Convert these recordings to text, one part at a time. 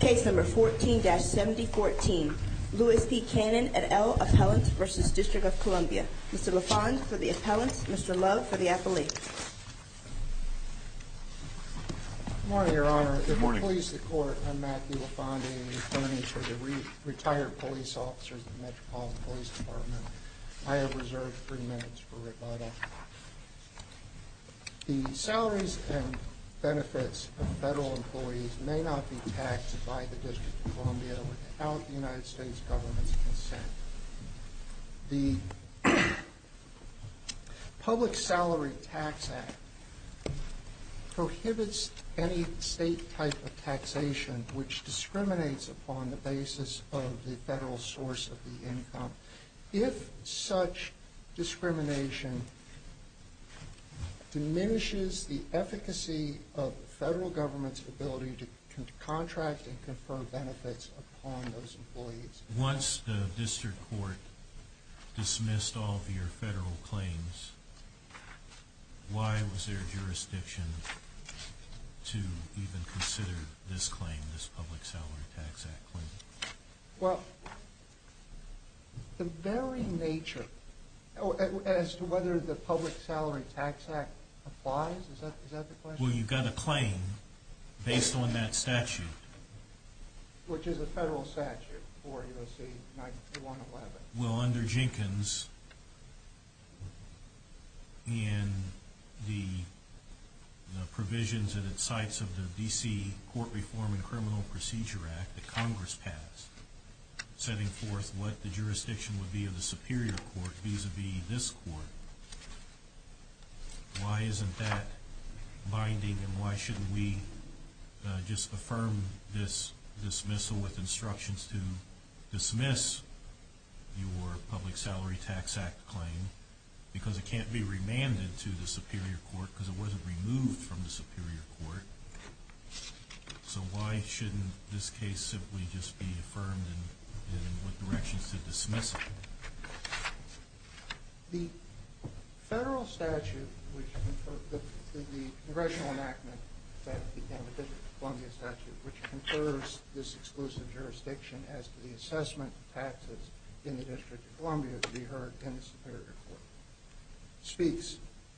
Case number 14-7014, Louis P. Cannon et al. Appellant v. District of Columbia. Mr. LaFond for the appellant, Mr. Lowe for the appellate. Good morning, Your Honor. Good morning. The employees of the court, I'm Matthew LaFond, attorney for the retired police officers of the Metropolitan Police Department. The salaries and benefits of federal employees may not be taxed by the District of Columbia without the United States government's consent. The Public Salary Tax Act prohibits any state type of taxation which discriminates upon the basis of the federal source of the income. If such discrimination diminishes the efficacy of the federal government's ability to contract and confer benefits upon those employees... Once the district court dismissed all of your federal claims, why was there jurisdiction to even consider this claim, this Public Salary Tax Act claim? Well, the very nature, as to whether the Public Salary Tax Act applies, is that the question? Well, you've got a claim based on that statute. Which is a federal statute for U.S.C. 9-1-11. Well, under Jenkins, in the provisions and at sites of the D.C. Court Reform and Criminal Procedure Act that Congress passed, setting forth what the jurisdiction would be of the superior court vis-a-vis this court, why isn't that binding and why shouldn't we just affirm this dismissal with instructions to dismiss your Public Salary Tax Act claim? Because it can't be remanded to the superior court because it wasn't removed from the superior court. So why shouldn't this case simply just be affirmed and in what directions to dismiss it? The federal statute, the Congressional enactment that became the District of Columbia statute, which confers this exclusive jurisdiction as to the assessment of taxes in the District of Columbia to be heard in the superior court, speaks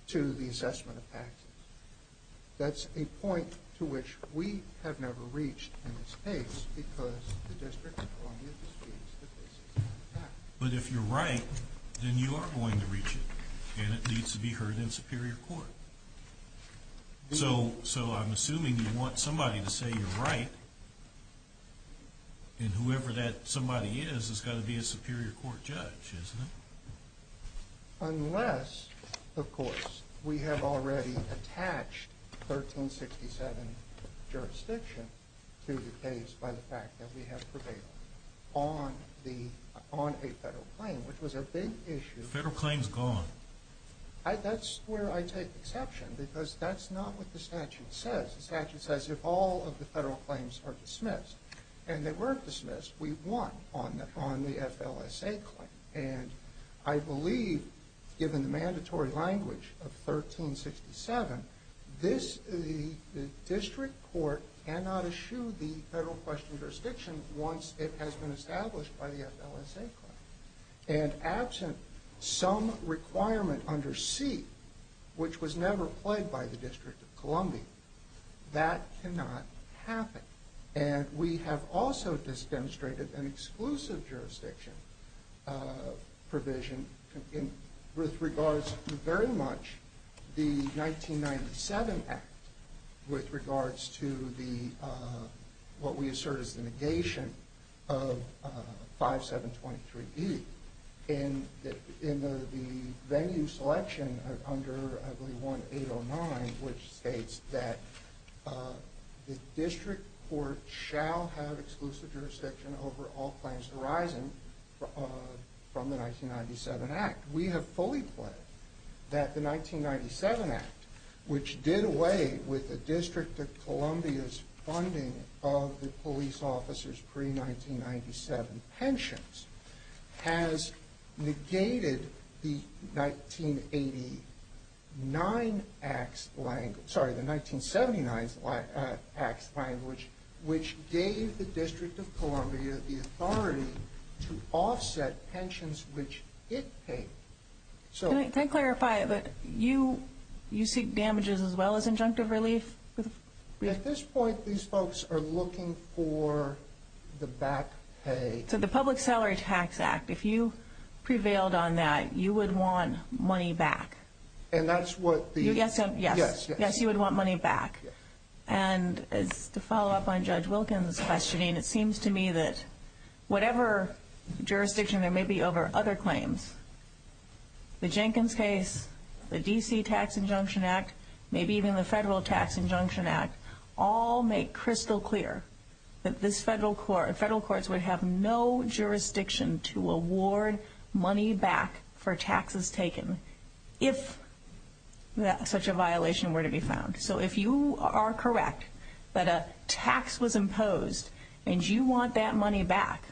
to the assessment of taxes. That's a point to which we have never reached in this case because the District of Columbia disputes that this is an attack. But if you're right, then you are going to reach it. And it needs to be heard in superior court. So I'm assuming you want somebody to say you're right, and whoever that somebody is has got to be a superior court judge, isn't it? Unless, of course, we have already attached 1367 jurisdiction to the case by the fact that we have prevailed on a federal claim, which was a big issue. The federal claim is gone. That's where I take exception because that's not what the statute says. The statute says if all of the federal claims are dismissed, and they weren't dismissed, we won on the FLSA claim. And I believe, given the mandatory language of 1367, the district court cannot eschew the federal question jurisdiction once it has been established by the FLSA claim. And absent some requirement under C, which was never played by the District of Columbia, that cannot happen. And we have also just demonstrated an exclusive jurisdiction provision with regards to very much the 1997 Act, with regards to what we assert is the negation of 5723E. In the venue selection under, I believe, 1809, which states that the district court shall have exclusive jurisdiction over all claims arising from the 1997 Act. We have fully pledged that the 1997 Act, which did away with the District of Columbia's funding of the police officers' pre-1997 pensions, has negated the 1979 Act's language, which gave the District of Columbia the authority to offset pensions which it paid. Can I clarify that you seek damages as well as injunctive relief? At this point, these folks are looking for the back pay. So the Public Salary Tax Act, if you prevailed on that, you would want money back. Yes, you would want money back. And to follow up on Judge Wilkins' questioning, it seems to me that whatever jurisdiction there may be over other claims, the Jenkins case, the D.C. Tax Injunction Act, maybe even the Federal Tax Injunction Act, all make crystal clear that Federal courts would have no jurisdiction to award money back for taxes taken if such a violation were to be found. So if you are correct that a tax was imposed and you want that money back,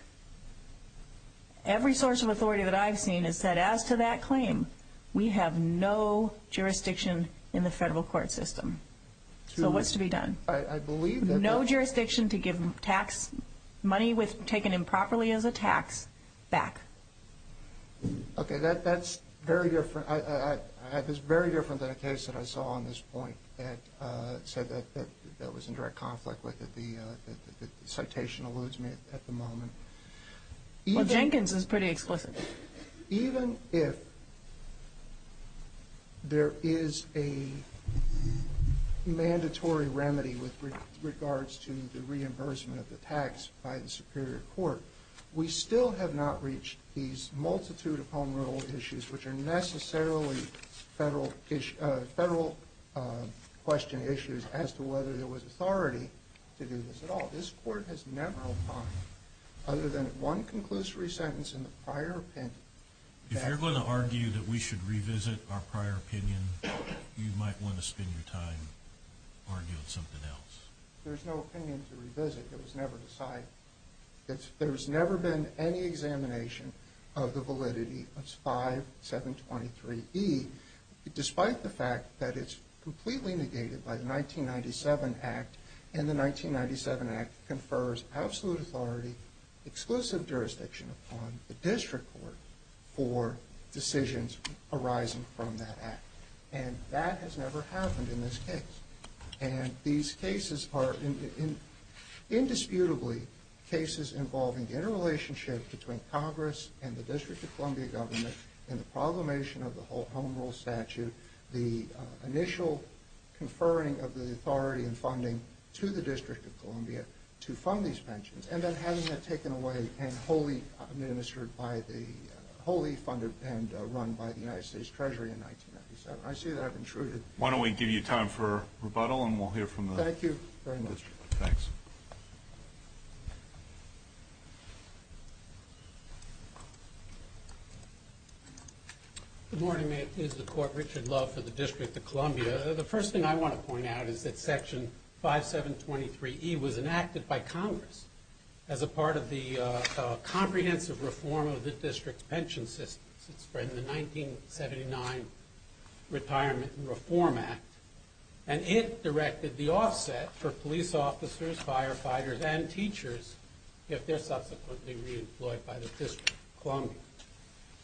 every source of authority that I've seen has said, as to that claim, we have no jurisdiction in the Federal court system. So what's to be done? I believe that... No jurisdiction to give tax money taken improperly as a tax back. Okay, that's very different. That is very different than a case that I saw on this point that said that that was in direct conflict with it. The citation alludes me at the moment. Well, Jenkins is pretty explicit. Even if there is a mandatory remedy with regards to the reimbursement of the tax by the Superior Court, we still have not reached these multitude of home rule issues, which are necessarily Federal question issues, as to whether there was authority to do this at all. This Court has never opined, other than at one conclusory sentence in the prior opinion... If you're going to argue that we should revisit our prior opinion, you might want to spend your time arguing something else. There's no opinion to revisit. It was never decided. There's never been any examination of the validity of 5723E, despite the fact that it's completely negated by the 1997 Act, and the 1997 Act confers absolute authority, exclusive jurisdiction upon the District Court, for decisions arising from that Act. And that has never happened in this case. And these cases are indisputably cases involving interrelationship between Congress and the District of Columbia government and the proclamation of the Home Rule Statute, the initial conferring of the authority and funding to the District of Columbia to fund these pensions, and then having that taken away and wholly funded and run by the United States Treasury in 1997. I see that I've intruded. Why don't we give you time for rebuttal, and we'll hear from the District. Thank you very much. Thanks. Good morning. This is the Court. Richard Love for the District of Columbia. The first thing I want to point out is that Section 5723E was enacted by Congress as a part of the comprehensive reform of the District's pension system since the 1979 Retirement and Reform Act, and it directed the offset for police officers, firefighters, and teachers if they're subsequently reemployed by the District of Columbia.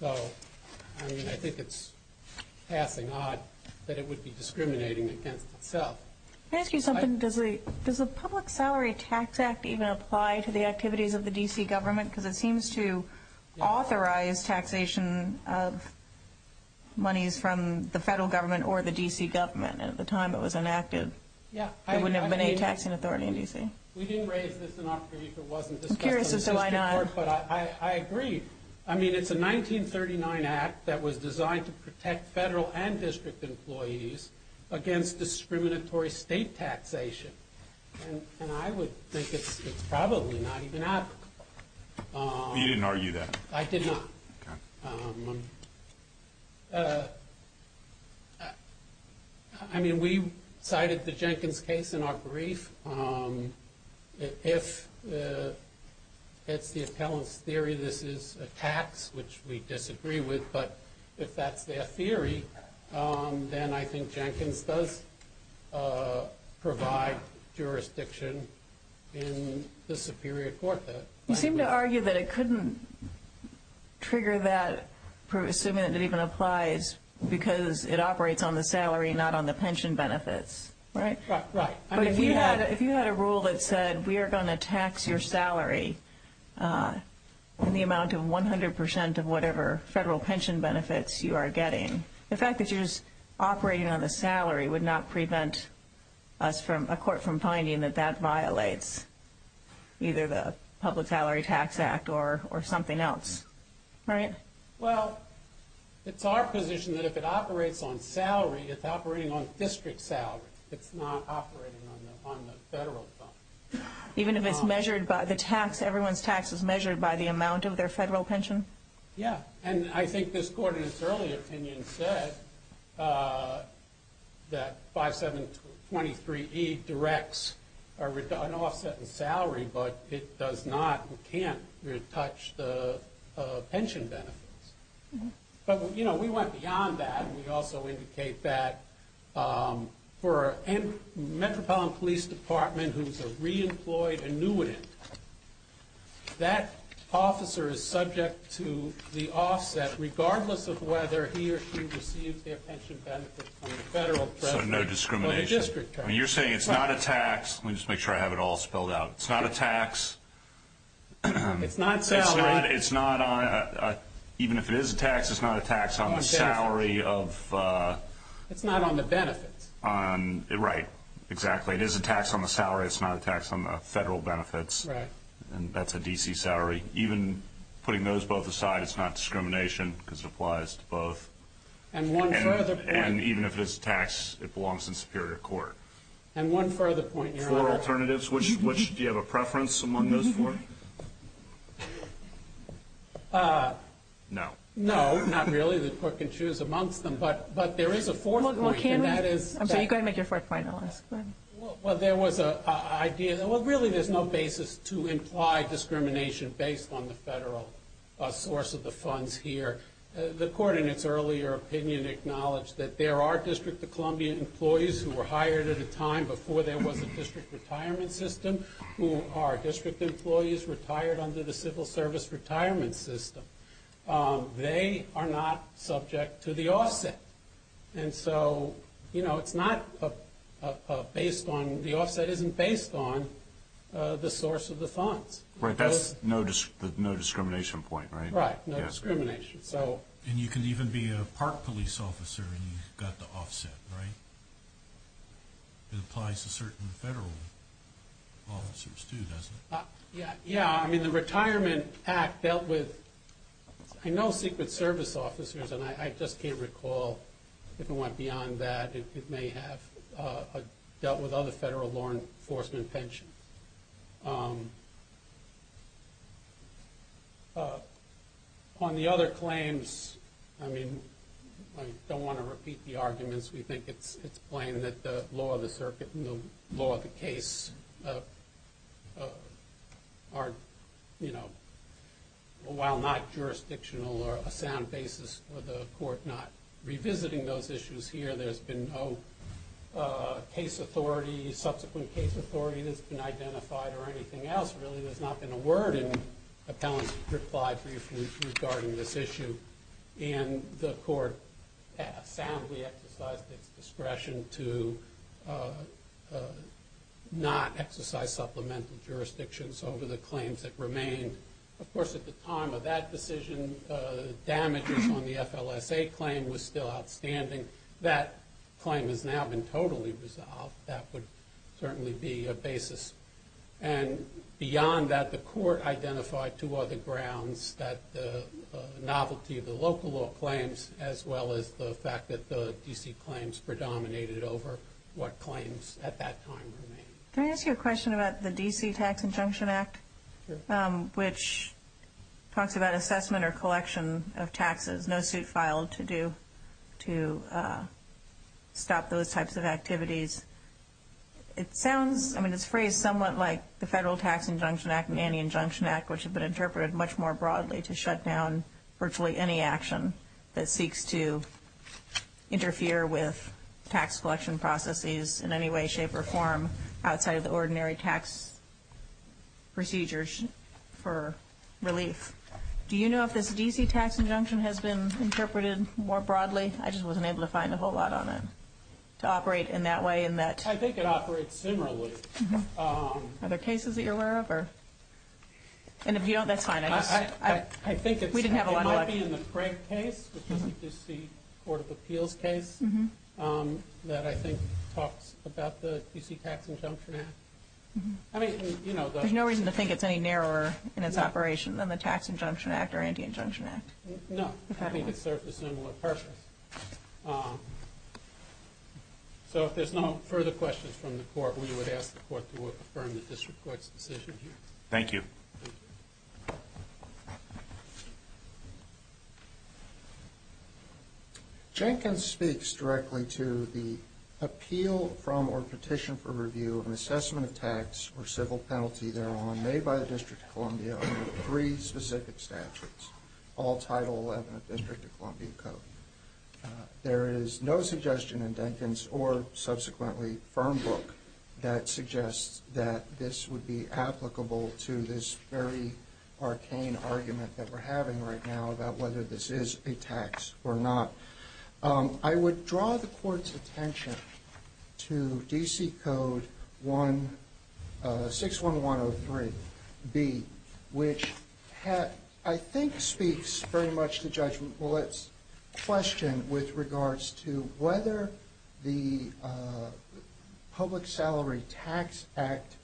So, I mean, I think it's passing odd that it would be discriminating against itself. Can I ask you something? Does the Public Salary Tax Act even apply to the activities of the D.C. government? Because it seems to authorize taxation of monies from the federal government or the D.C. government. At the time it was enacted, there wouldn't have been any taxing authority in D.C. We didn't raise this in our brief. I'm curious as to why not. It's hard, but I agree. I mean, it's a 1939 act that was designed to protect federal and district employees against discriminatory state taxation, and I would think it's probably not even applicable. You didn't argue that? I did not. I mean, we cited the Jenkins case in our brief. If it's the appellant's theory this is a tax, which we disagree with, but if that's their theory, then I think Jenkins does provide jurisdiction in the Superior Court. You seem to argue that it couldn't trigger that, assuming that it even applies, because it operates on the salary, not on the pension benefits, right? Right. But if you had a rule that said we are going to tax your salary in the amount of 100 percent of whatever federal pension benefits you are getting, the fact that you're just operating on the salary would not prevent a court from finding that that violates either the Public Salary Tax Act or something else, right? Well, it's our position that if it operates on salary, it's operating on district salary. It's not operating on the federal fund. Even if it's measured by the tax, everyone's tax is measured by the amount of their federal pension? Yeah. And I think this Court in its earlier opinion said that 5723E directs an offset in salary, but it does not or can't touch the pension benefits. But we went beyond that, and we also indicate that for a Metropolitan Police Department who's a re-employed annuitant, that officer is subject to the offset, regardless of whether he or she receives their pension benefits from the federal president or the district attorney. So no discrimination. I mean, you're saying it's not a tax. Let me just make sure I have it all spelled out. It's not a tax. It's not salary. Even if it is a tax, it's not a tax on the salary. It's not on the benefits. Right, exactly. It is a tax on the salary. It's not a tax on the federal benefits. Right. And that's a D.C. salary. Even putting those both aside, it's not discrimination because it applies to both. And one further point. And even if it's a tax, it belongs in Superior Court. And one further point, Your Honor. Four alternatives, which do you have a preference among those four? No. No, not really. The Court can choose amongst them. But there is a fourth point, and that is. So you go ahead and make your fourth point, and I'll ask. Go ahead. Well, there was an idea. Well, really, there's no basis to imply discrimination based on the federal source of the funds here. The Court, in its earlier opinion, acknowledged that there are District of Columbia employees who were hired at a time before there was a district retirement system who are district employees retired under the civil service retirement system. They are not subject to the offset. And so, you know, it's not based on the offset isn't based on the source of the funds. Right. That's the no discrimination point, right? Right. No discrimination. And you can even be a park police officer and you've got the offset, right? It applies to certain federal officers, too, doesn't it? Yeah. Yeah. I mean, the Retirement Act dealt with... I know Secret Service officers, and I just can't recall if it went beyond that. It may have dealt with other federal law enforcement pensions. On the other claims, I mean, I don't want to repeat the arguments. We think it's plain that the law of the circuit and the law of the case are, you know, while not jurisdictional or a sound basis for the Court not revisiting those issues here, there's been no case authority, subsequent case authority that's been identified or anything else. Really, there's not been a word in Appellant's reply regarding this issue. And the Court soundly exercised its discretion to not exercise supplemental jurisdictions over the claims that remained. Of course, at the time of that decision, damages on the FLSA claim was still outstanding. That claim has now been totally resolved. That would certainly be a basis. And beyond that, the Court identified two other grounds that the novelty of the local law claims, as well as the fact that the D.C. claims predominated over what claims at that time remained. Can I ask you a question about the D.C. Tax Injunction Act, which talks about assessment or collection of taxes, no suit filed to do to stop those types of activities? It sounds, I mean, it's phrased somewhat like the Federal Tax Injunction Act and Anti-Injunction Act, which have been interpreted much more broadly to shut down virtually any action that seeks to interfere with tax collection processes in any way, shape, or form outside of the ordinary tax procedures for relief. Do you know if this D.C. Tax Injunction has been interpreted more broadly? I just wasn't able to find a whole lot on it to operate in that way. I think it operates similarly. Are there cases that you're aware of? And if you don't, that's fine. I think it might be in the Craig case, which is the D.C. Court of Appeals case, that I think talks about the D.C. Tax Injunction Act. There's no reason to think it's any narrower in its operation than the Tax Injunction Act or Anti-Injunction Act. No, I think it serves a similar purpose. So if there's no further questions from the Court, we would ask the Court to affirm the District Court's decision here. Thank you. Jenkins speaks directly to the appeal from or petition for review of an assessment of tax or civil penalty thereon made by the District of Columbia under three specific statutes, all Title XI of the District of Columbia Code. There is no suggestion in Jenkins or, subsequently, firm book that suggests that this would be applicable to this very arcane argument that we're having right now about whether this is a tax or not. I would draw the Court's attention to D.C. Code 61103B, which I think speaks very much to Judge Millett's question with regards to whether the Public Salary Tax Act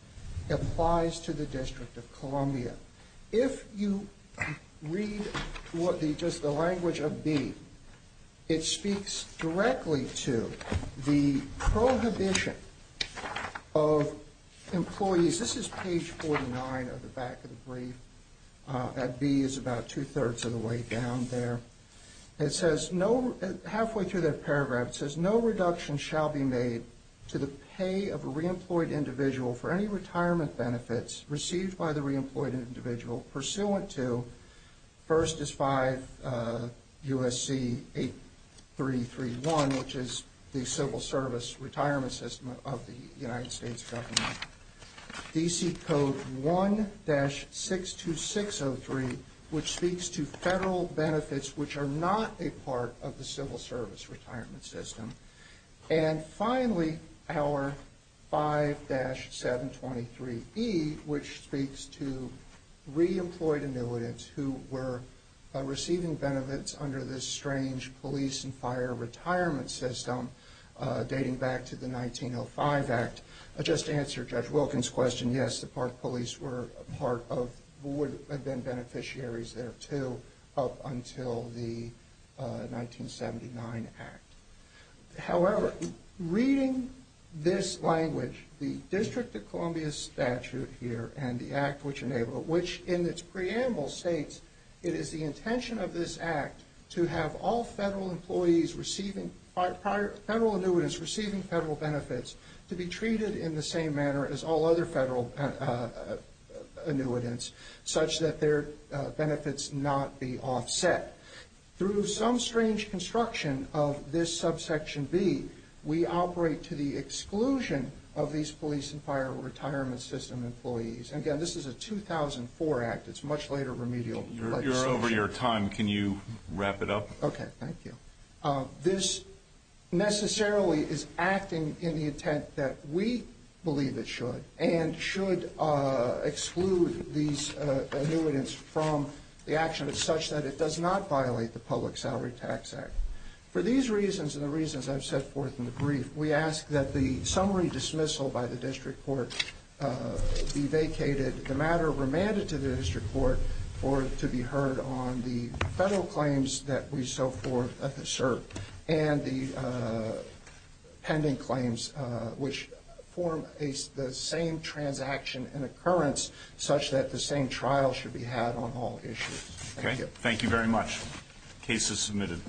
applies to the District of Columbia. If you read just the language of B, it speaks directly to the prohibition of employees. This is page 49 of the back of the brief. That B is about two-thirds of the way down there. It says, halfway through that paragraph, it says, of a reemployed individual for any retirement benefits received by the reemployed individual pursuant to, first is 5 U.S.C. 8331, which is the Civil Service Retirement System of the United States government. D.C. Code 1-62603, which speaks to federal benefits which are not a part of the Civil Service Retirement System. And finally, our 5-723E, which speaks to reemployed annuitants who were receiving benefits under this strange police and fire retirement system dating back to the 1905 Act. Just to answer Judge Wilkins' question, yes, the Park Police were part of, would have been beneficiaries there, too, up until the 1979 Act. However, reading this language, the District of Columbia statute here and the Act, which in its preamble states, it is the intention of this Act to have all federal employees receiving, federal annuitants receiving federal benefits to be treated in the same manner as all other federal annuitants, such that their benefits not be offset. Through some strange construction of this subsection B, we operate to the exclusion of these police and fire retirement system employees. Again, this is a 2004 Act. It's a much later remedial legislation. You're over your time. Can you wrap it up? Okay, thank you. This necessarily is acting in the intent that we believe it should and should exclude these annuitants from the action such that it does not violate the Public Salary Tax Act. For these reasons and the reasons I've set forth in the brief, we ask that the summary dismissal by the District Court be vacated, that the matter remanded to the District Court for it to be heard on the federal claims that we so forth assert and the pending claims which form the same transaction and occurrence, such that the same trial should be had on all issues. Thank you. Thank you very much. Case is submitted.